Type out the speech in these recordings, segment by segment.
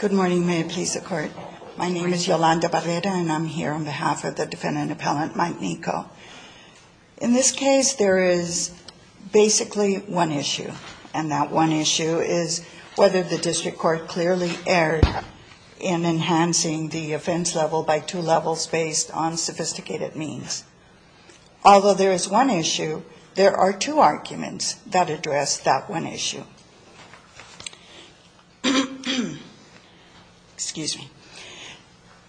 In this case, there is basically one issue, and that one issue is whether the district court clearly erred in enhancing the offense level by two levels based on sophisticated means. Although there is one issue, there are two arguments that address that one issue.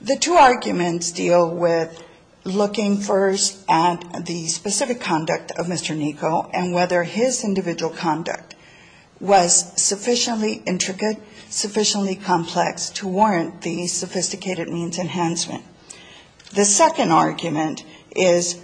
The two arguments deal with looking first at the specific conduct of Mr. Niko and whether his individual conduct was sufficiently intricate, sufficiently complex to warrant the sophisticated means enhancement. The second argument is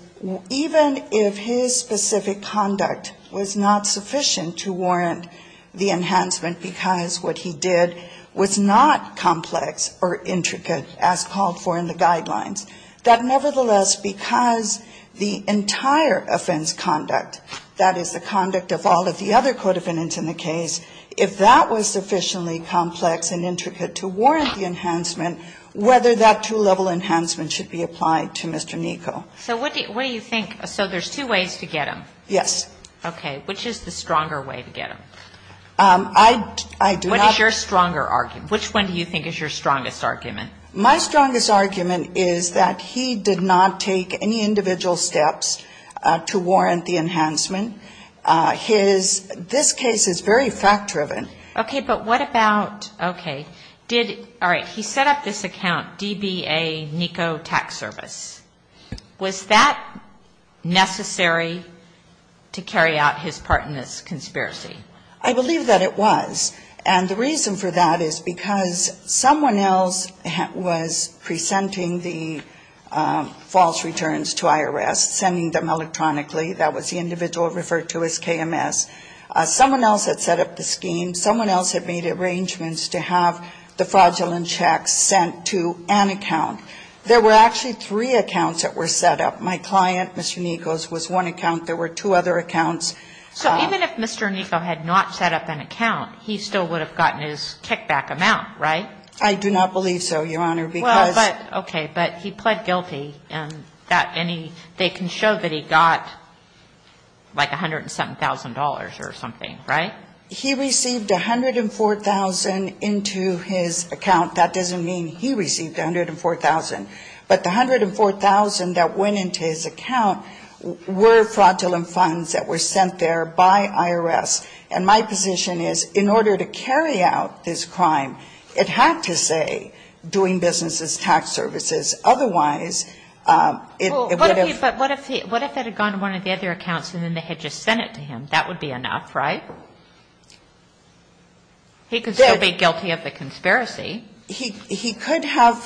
even if his specific conduct was not sufficient to warrant the enhancement because what he did was not complex or intricate as called for in the guidelines, that nevertheless, because the entire offense conduct, that is, the conduct of all of the other co-defendants in the case, if that was sufficiently complex and intricate to warrant the enhancement, whether that two-level offense level was sufficient to warrant the enhancement, that is, the two-level offense level was not sufficient to warrant the enhancement. The two-level enhancement should be applied to Mr. Niko. So what do you think? So there's two ways to get him. Yes. Okay. Which is the stronger way to get him? I do not. What is your stronger argument? Which one do you think is your strongest argument? My strongest argument is that he did not take any individual steps to warrant the enhancement. His, this case is very fact-driven. Okay. But what about, okay. Did, all right, he set up this account, DBA Niko Tax Service. Was that necessary to carry out his part in this conspiracy? I believe that it was. And the reason for that is because someone else was presenting the false returns to IRS, sending them electronically. That was the individual referred to as KMS. Someone else had set up the scheme. Someone else had made arrangements to have the fraudulent checks sent to an account. There were actually three accounts that were set up. My client, Mr. Niko's, was one account. There were two other accounts. So even if Mr. Niko had not set up an account, he still would have gotten his kickback amount, right? I do not believe so, Your Honor, because ---- Well, but, okay, but he pled guilty. And that, and he, they can show that he got like $107,000 or something, right? He received $104,000 into his account. That doesn't mean he received $104,000. But the $104,000 that went into his account were fraudulent funds that were sent there by IRS. And my position is in order to carry out this crime, it had to say doing business as tax services. Otherwise, it would have ---- He could still be guilty of the conspiracy. He could have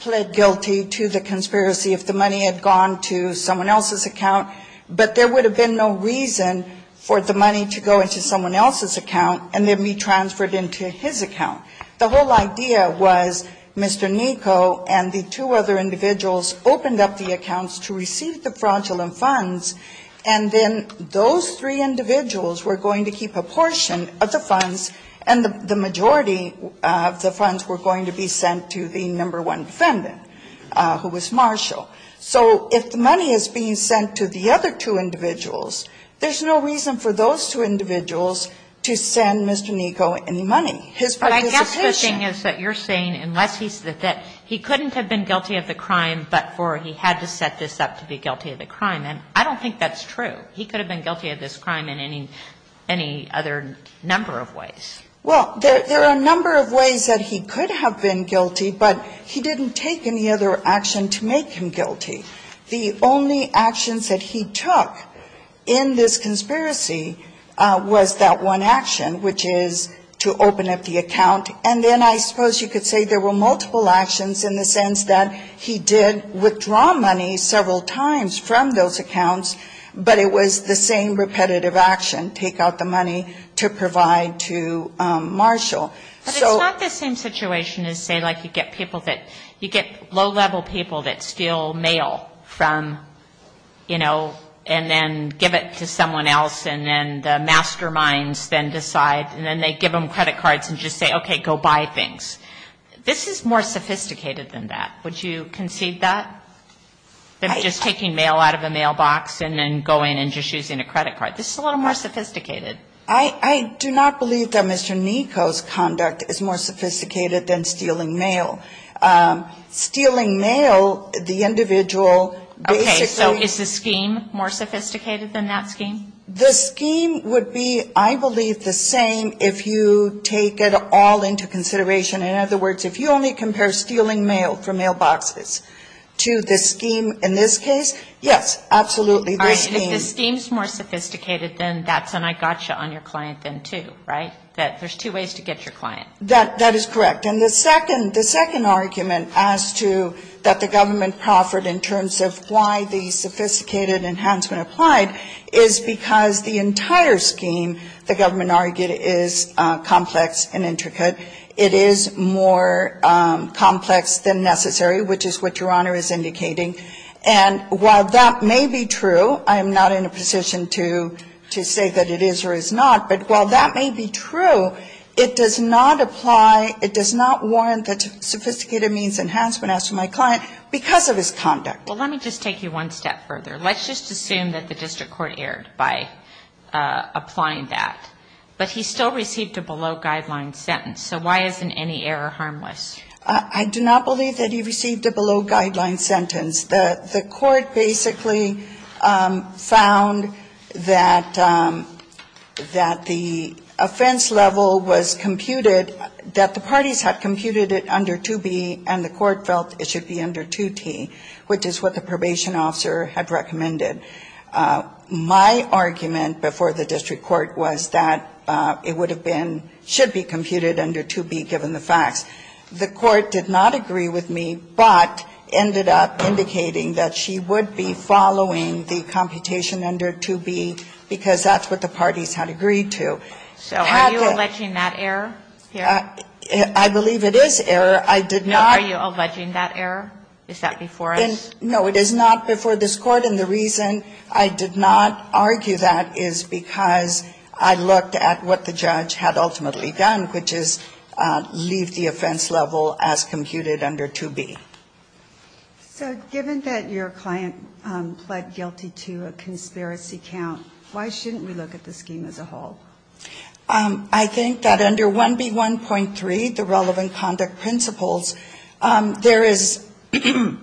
pled guilty to the conspiracy if the money had gone to someone else's account, but there would have been no reason for the money to go into someone else's account and then be transferred into his account. The whole idea was Mr. Niko and the two other individuals opened up the accounts to receive the fraudulent funds, and then those three individuals were going to keep a portion of the funds, and the majority of the funds were going to be sent to the number one defendant, who was Marshall. So if the money is being sent to the other two individuals, there's no reason for those two individuals to send Mr. Niko any money. His participation ---- And I don't think that's true. He could have been guilty of this crime in any other number of ways. Well, there are a number of ways that he could have been guilty, but he didn't take any other action to make him guilty. The only actions that he took in this conspiracy was that one action, which is to open up the account, and then I suppose you could say there were multiple actions in the sense that he did withdraw money several times from those accounts, but it was the same repetitive action, take out the money to provide to Marshall. So ---- But it's not the same situation as, say, like you get people that you get low-level people that steal mail from, you know, and then give it to someone else, and then the masterminds then decide, and then they give them credit cards and just say, okay, go buy things. This is more sophisticated than that. Would you concede that, than just taking mail out of a mailbox and then going and just using a credit card? This is a little more sophisticated. I do not believe that Mr. Niko's conduct is more sophisticated than stealing mail. Stealing mail, the individual basically ---- Okay. So is the scheme more sophisticated than that scheme? The scheme would be, I believe, the same if you take it all into consideration In other words, if you only compare stealing mail from mailboxes to the scheme in this case, yes, absolutely, the scheme ---- All right. If the scheme is more sophisticated than that, then I got you on your client then too, right? That there's two ways to get your client. That is correct. And the second argument as to that the government proffered in terms of why the sophisticated enhancement applied is because the entire scheme, the government argued, is complex and intricate. It is more complex than necessary, which is what Your Honor is indicating. And while that may be true, I am not in a position to say that it is or is not, but while that may be true, it does not apply, it does not warrant the sophisticated means enhancement as to my client because of his conduct. Well, let me just take you one step further. Let's just assume that the district court erred by applying that, but he still received a below-guideline sentence. So why isn't any error harmless? I do not believe that he received a below-guideline sentence. The court basically found that the offense level was computed, that the parties had computed it under 2B and the court felt it should be under 2T, which is what the probation officer had recommended. My argument before the district court was that it would have been, should be computed under 2B given the facts. The court did not agree with me, but ended up indicating that she would be following the computation under 2B because that's what the parties had agreed to. Had the ---- So are you alleging that error here? I believe it is error. I did not ---- Are you alleging that error? Is that before us? No, it is not before this court, and the reason I did not argue that is because I looked at what the judge had ultimately done, which is leave the offense level as computed under 2B. So given that your client pled guilty to a conspiracy count, why shouldn't we look at the scheme as a whole? I think that under 1B.1.3, the relevant conduct principles, there is ----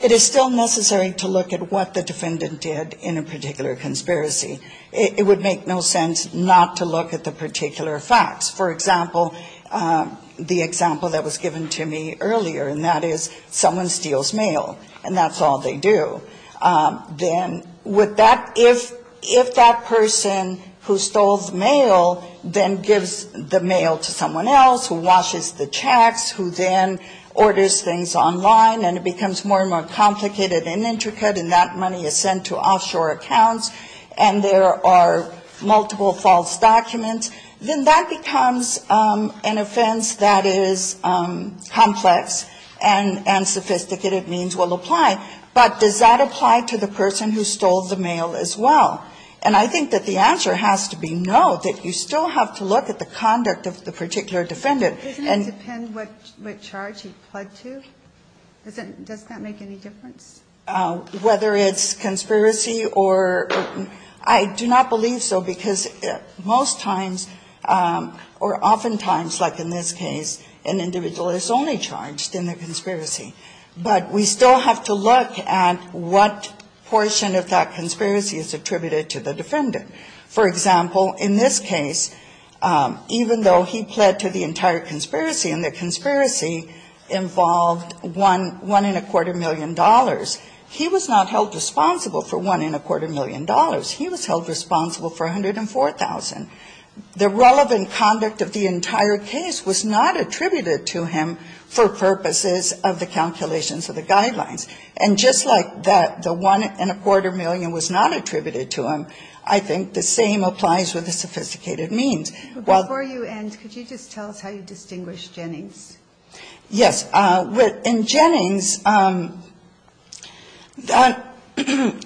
it is still necessary to look at what the defendant did in a particular conspiracy. It would make no sense not to look at the particular facts. For example, the example that was given to me earlier, and that is someone steals mail, and that's all they do. Then with that, if that person who stole the mail then gives the mail to someone else who washes the checks, who then orders things online, and it becomes more and more complicated and intricate, and that money is sent to offshore accounts, and there are multiple false documents, then that becomes an offense that is complex and sophisticated means will apply. But does that apply to the person who stole the mail as well? And I think that the answer has to be no, that you still have to look at the conduct of the particular defendant. Doesn't it depend what charge he pled to? Does that make any difference? Whether it's conspiracy or ---- I do not believe so because most times or oftentimes like in this case, an individual is only charged in the conspiracy. But we still have to look at what portion of that conspiracy is attributed to the defendant. For example, in this case, even though he pled to the entire conspiracy and the conspiracy involved one and a quarter million dollars, he was not held responsible for one and a quarter million dollars. He was held responsible for $104,000. The relevant conduct of the entire case was not attributed to him for purposes of the calculations of the guidelines. And just like that, the one and a quarter million was not attributed to him, I think the same applies with the sophisticated means. While ---- Before you end, could you just tell us how you distinguish Jennings? Yes. In Jennings,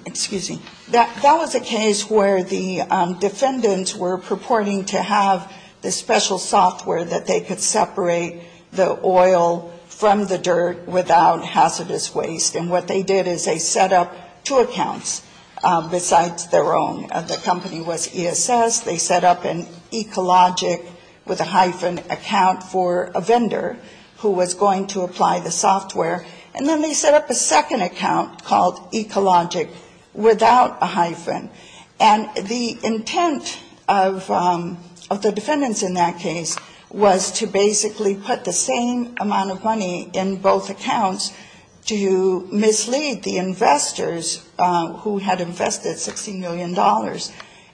excuse me, that was a case where the defendants were purporting to have the special software that they could separate the oil from the dirt without hazardous waste. And what they did is they set up two accounts besides their own. The company was ESS. They set up an Ecologic with a hyphen account for a vendor who was going to apply the software. And then they set up a second account called Ecologic without a hyphen. And the intent of the defendants in that case was to basically put the same amount of money in both accounts to mislead the investors who had invested $60 million.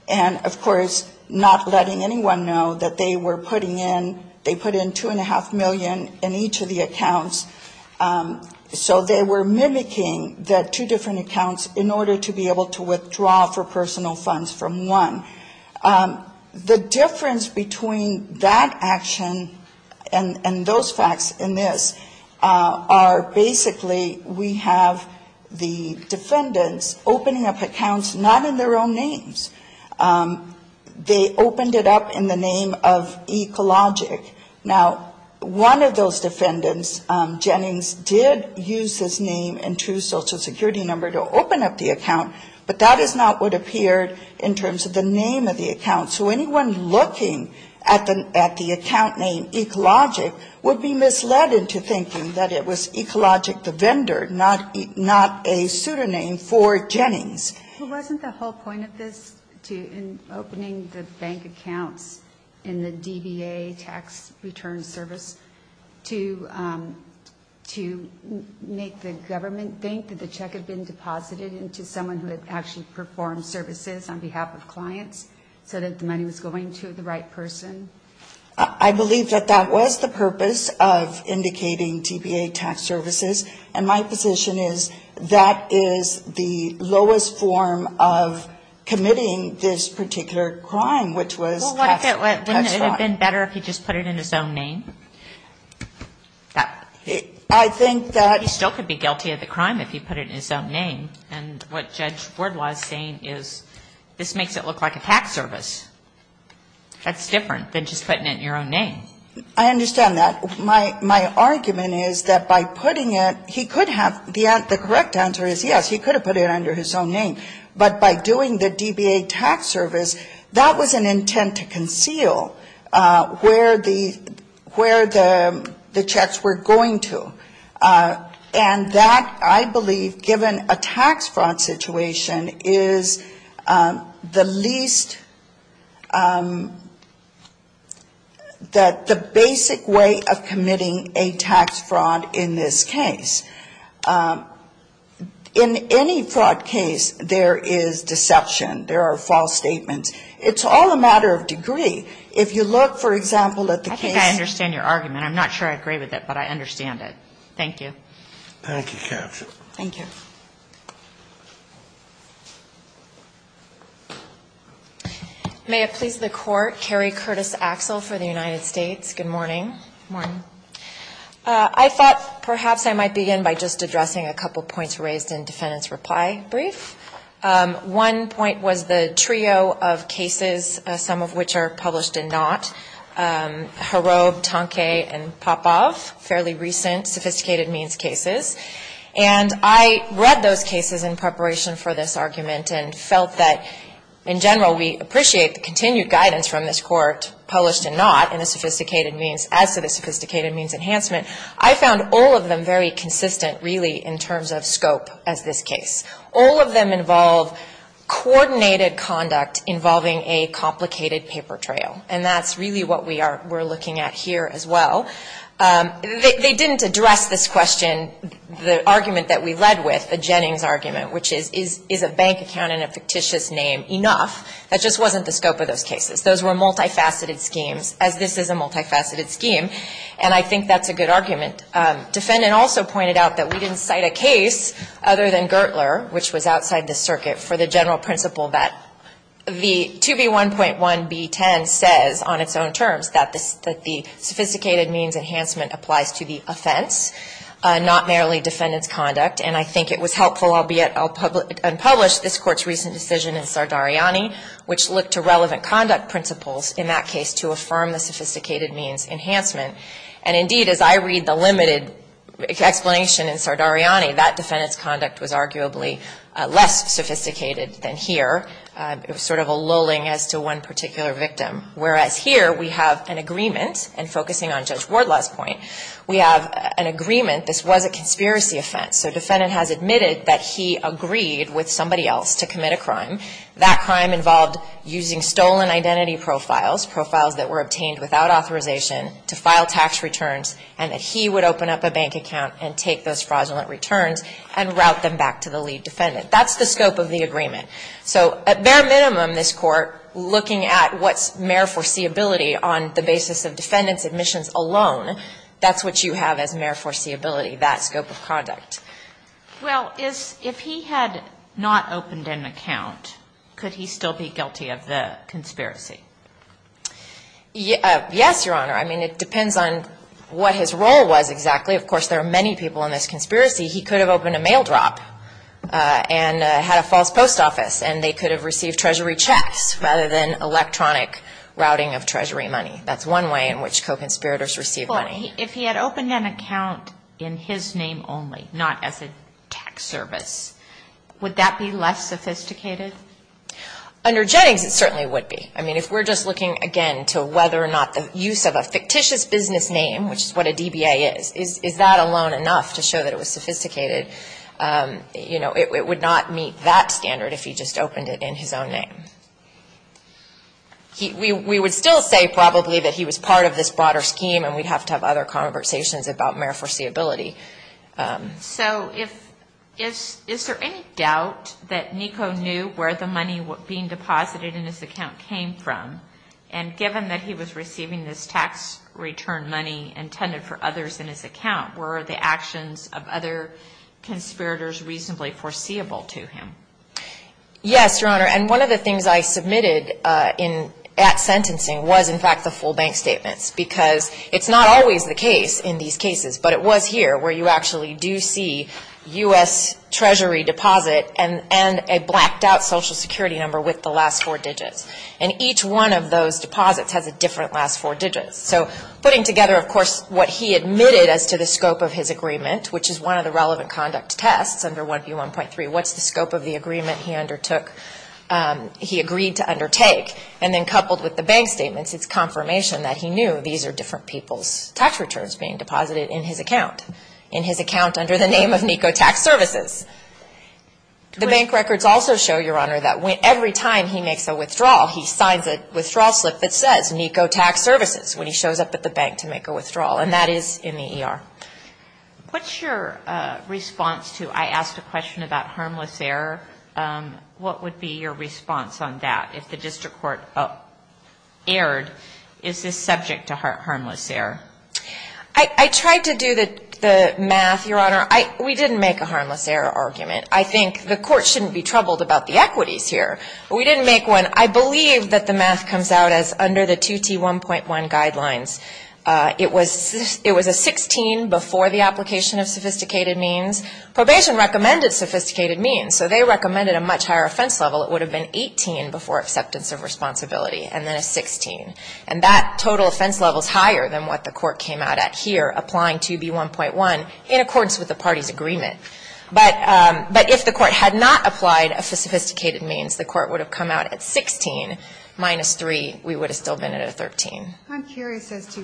And of course, not letting anyone know that they were putting in, they put in two and a half million in each of the accounts. So they were mimicking the two different accounts in order to be able to withdraw the software personal funds from one. The difference between that action and those facts in this are basically we have the defendants opening up accounts not in their own names. They opened it up in the name of Ecologic. Now, one of those defendants, Jennings, did use his name and true Social Security number to open up the account, but that is not what appeared in terms of the name of the account. So anyone looking at the account name Ecologic would be misled into thinking that it was Ecologic, the vendor, not a pseudonym for Jennings. But wasn't the whole point of this, too, in opening the bank accounts in the DBA tax return service, to make the government think that the check had been deposited into someone who had actually performed services on behalf of clients so that the money was going to the right person? I believe that that was the purpose of indicating DBA tax services. And my position is that is the lowest form of committing this particular crime, which was tax fraud. Wouldn't it have been better if he just put it in his own name? He still could be guilty of the crime if he put it in his own name. And what Judge Ward was saying is this makes it look like a tax service. That's different than just putting it in your own name. I understand that. My argument is that by putting it, he could have, the correct answer is yes, he could have put it under his own name. But by doing the DBA tax service, that was an intent to conceal where the checks were going to. And that, I believe, given a tax fraud situation, is the least, that the basic way of committing a tax fraud in this case. In any fraud case, there is deception. There are false statements. It's all a matter of degree. If you look, for example, at the case. I think I understand your argument. I'm not sure I agree with it, but I understand it. Thank you. Thank you. Thank you. May it please the Court, Carrie Curtis Axel for the United States. Good morning. Good morning. I thought perhaps I might begin by just addressing a couple points raised in defendant's case. And I read those cases in preparation for this argument and felt that, in general, we appreciate the continued guidance from this Court, published or not, in a sophisticated means, as to the sophisticated means enhancement. I found all of them very consistent, really, in terms of scope as this case. All of them involve coordinated conduct involving a complicated paper trail. And that's really what we're looking at here as well. They didn't address this question, the argument that we led with, the Jennings argument, which is, is a bank account in a fictitious name enough? That just wasn't the scope of those cases. Those were multifaceted schemes, as this is a multifaceted scheme. And I think that's a good argument. Defendant also pointed out that we didn't cite a case other than Gertler, which was outside the circuit, for the general principle that the 2B1.1B10 says on its own terms that the sophisticated means enhancement applies to the offense, not merely defendant's conduct. And I think it was helpful, albeit unpublished, this Court's recent decision in Sardariani, which looked to relevant conduct principles in that case to affirm the sophisticated means enhancement. And, indeed, as I read the limited explanation in Sardariani, that defendant's conduct was arguably less sophisticated than here. It was sort of a lulling as to one particular victim, whereas here we have an agreement, and focusing on Judge Wardlaw's point, we have an agreement this was a conspiracy offense. So defendant has admitted that he agreed with somebody else to commit a crime. That crime involved using stolen identity profiles, profiles that were obtained without authorization, to file tax returns, and that he would open up a bank account and take those fraudulent returns and route them back to the lead defendant. That's the scope of the agreement. So, at bare minimum, this Court, looking at what's mere foreseeability on the basis of defendant's admissions alone, that's what you have as mere foreseeability, that scope of conduct. Well, if he had not opened an account, could he still be guilty of the conspiracy? Yes, Your Honor. I mean, it depends on what his role was exactly. Of course, there are many people in this conspiracy. He could have opened a mail drop and had a false post office, and they could have received Treasury checks rather than electronic routing of Treasury money. That's one way in which co-conspirators receive money. Well, if he had opened an account in his name only, not as a tax service, would that be less sophisticated? Under Jennings, it certainly would be. I mean, if we're just looking, again, to whether or not the use of a fictitious business name, which is what a DBA is, is that alone enough to show that it was sophisticated? You know, it would not meet that standard if he just opened it in his own name. We would still say probably that he was part of this broader scheme, and we'd have to have other conversations about mere foreseeability. So is there any doubt that Nico knew where the money being deposited in his account came from? And given that he was receiving this tax return money intended for others in his account, were the actions of other conspirators reasonably foreseeable to him? Yes, Your Honor, and one of the things I submitted at sentencing was, in fact, the full bank statements, because it's not always the case in these cases, but it was here where you actually do see U.S. Treasury deposit and a blacked-out Social Security number with the last four digits. And each one of those deposits has a different last four digits. So putting together, of course, what he admitted as to the scope of his agreement, which is one of the relevant conduct tests under 1B1.3, what's the scope of the agreement he undertook, he agreed to undertake? And then coupled with the bank statements, it's confirmation that he knew these are different people's tax returns being deposited in his account, in his account under the name of Nico Tax Services. The bank records also show, Your Honor, that every time he makes a withdrawal, he signs a withdrawal slip that says Nico Tax Services when he shows up at the bank to make a withdrawal, and that is in the ER. What's your response to I asked a question about harmless error? What would be your response on that? If the district court erred, is this subject to harmless error? I tried to do the math, Your Honor. We didn't make a harmless error argument. I think the court shouldn't be troubled about the equities here. We didn't make one. I believe that the math comes out as under the 2T1.1 guidelines. It was a 16 before the application of sophisticated means. Probation recommended sophisticated means, so they recommended a much higher offense level. It would have been 18 before acceptance of responsibility, and then a 16. And that total offense level is higher than what the court came out at here, applying 2B1.1 in accordance with the party's agreement. But if the court had not applied for sophisticated means, the court would have come out at 16 minus 3. We would have still been at a 13. I'm curious as to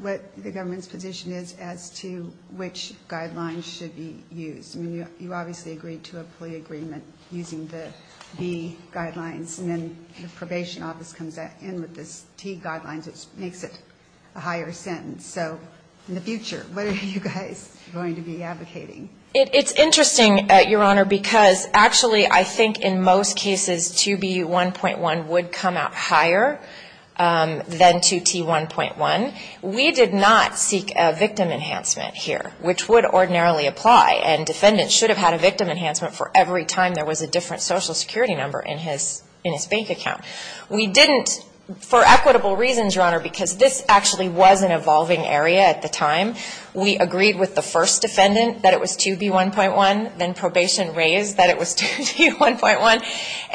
what the government's position is as to which guidelines should be used. I mean, you obviously agreed to a plea agreement using the B guidelines, and then the probation office comes in with this T guidelines, which makes it a higher sentence. So in the future, what are you guys going to be advocating? It's interesting, Your Honor, because actually I think in most cases 2B1.1 would come out higher than 2T1.1. We did not seek a victim enhancement here, which would ordinarily apply, and defendants should have had a victim enhancement for every time there was a different social security number in his bank account. We didn't for equitable reasons, Your Honor, because this actually was an evolving area at the time. We agreed with the first defendant that it was 2B1.1, then probation raised that it was 2B1.1,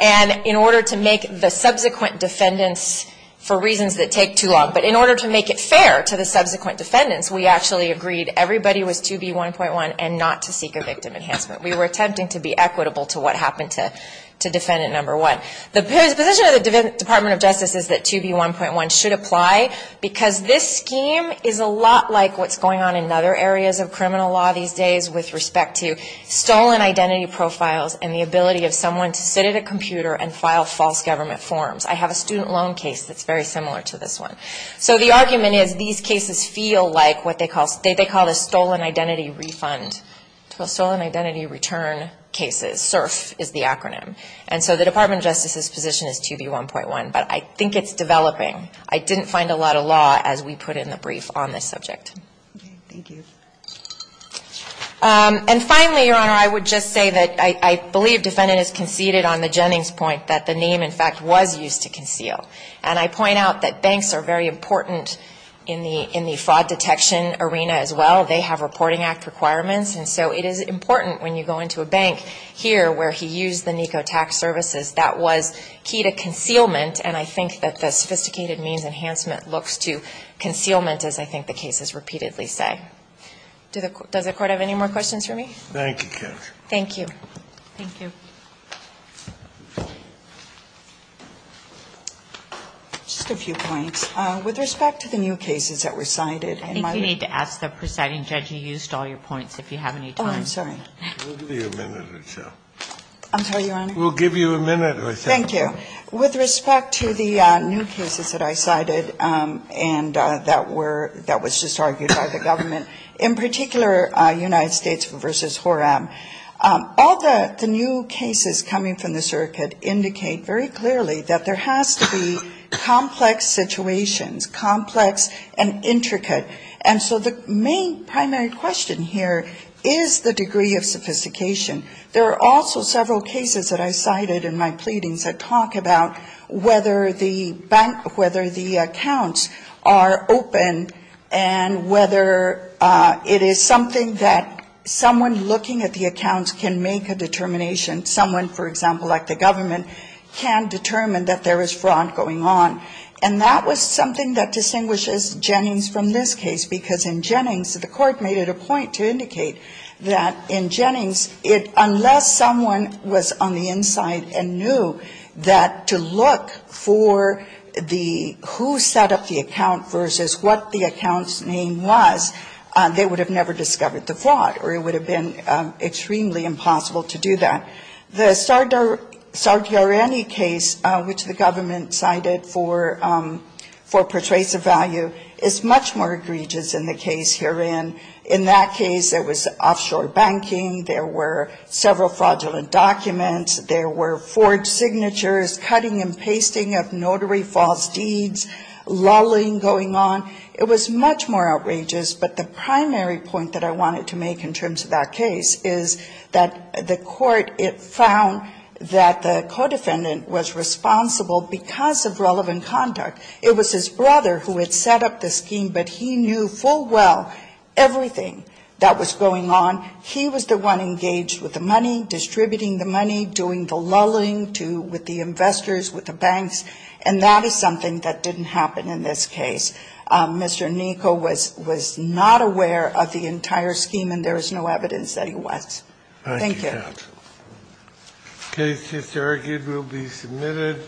and in order to make the subsequent defendants, for reasons that take too long, but in order to make it fair to the subsequent defendants, we actually agreed everybody was 2B1.1 and not to seek a victim enhancement. We were attempting to be equitable to what happened to defendant number one. The position of the Department of Justice is that 2B1.1 should apply, because this scheme is a lot like what's going on in other areas of criminal law these days with respect to stolen identity profiles and the ability of someone to sit at a computer and file false government forms. I have a student loan case that's very similar to this one. So the argument is these cases feel like what they call a stolen identity refund, or stolen identity return cases, SURF is the acronym. And so the Department of Justice's position is 2B1.1, but I think it's developing. I didn't find a lot of law as we put it in the brief on this subject. Thank you. And finally, Your Honor, I would just say that I believe defendant has conceded on the Jennings point that the name, in fact, was used to conceal. And I point out that banks are very important in the fraud detection arena as well. They have Reporting Act requirements, and so it is important when you go into a bank here where he used the NECO tax services, that was key to concealment. And I think that the sophisticated means enhancement looks to concealment, as I think the cases repeatedly say. Does the Court have any more questions for me? Thank you, Counselor. Thank you. Thank you. Just a few points. With respect to the new cases that were cited in my review. I think you need to ask the presiding judge you used all your points, if you have any time. Oh, I'm sorry. We'll give you a minute or so. I'm sorry, Your Honor? We'll give you a minute or so. Thank you. With respect to the new cases that I cited and that were, that was just argued by the government, in particular United States v. Horam, all the new cases coming from the circuit indicate very clearly that there has to be complex situations, complex and intricate. And so the main primary question here is the degree of sophistication. There are also several cases that I cited in my pleadings that talk about whether the bank, whether the accounts are open and whether it is something that someone looking at the accounts can make a determination. Someone, for example, like the government, can determine that there is fraud going on. And that was something that distinguishes Jennings from this case because in Jennings, the court made it a point to indicate that in Jennings, unless someone was on the inside and knew that to look for the, who set up the account versus what the account's name was, they would have never discovered the fraud or it would have been extremely impossible to do that. The Sardarani case, which the government cited for persuasive value, is much more egregious in the case herein. In that case, it was offshore banking. There were several fraudulent documents. There were forged signatures, cutting and pasting of notary false deeds, lolling going on. It was much more outrageous, but the primary point that I wanted to make in terms of that case is that the court, it found that the co-defendant was responsible because of relevant conduct. It was his brother who had set up the scheme, but he knew full well everything that was going on. He was the one engaged with the money, distributing the money, doing the lolling with the investors, with the banks, and that is something that didn't happen in this case. Mr. Niko was not aware of the entire scheme and there is no evidence that he was. Thank you. Thank you, counsel. The case, as argued, will be submitted.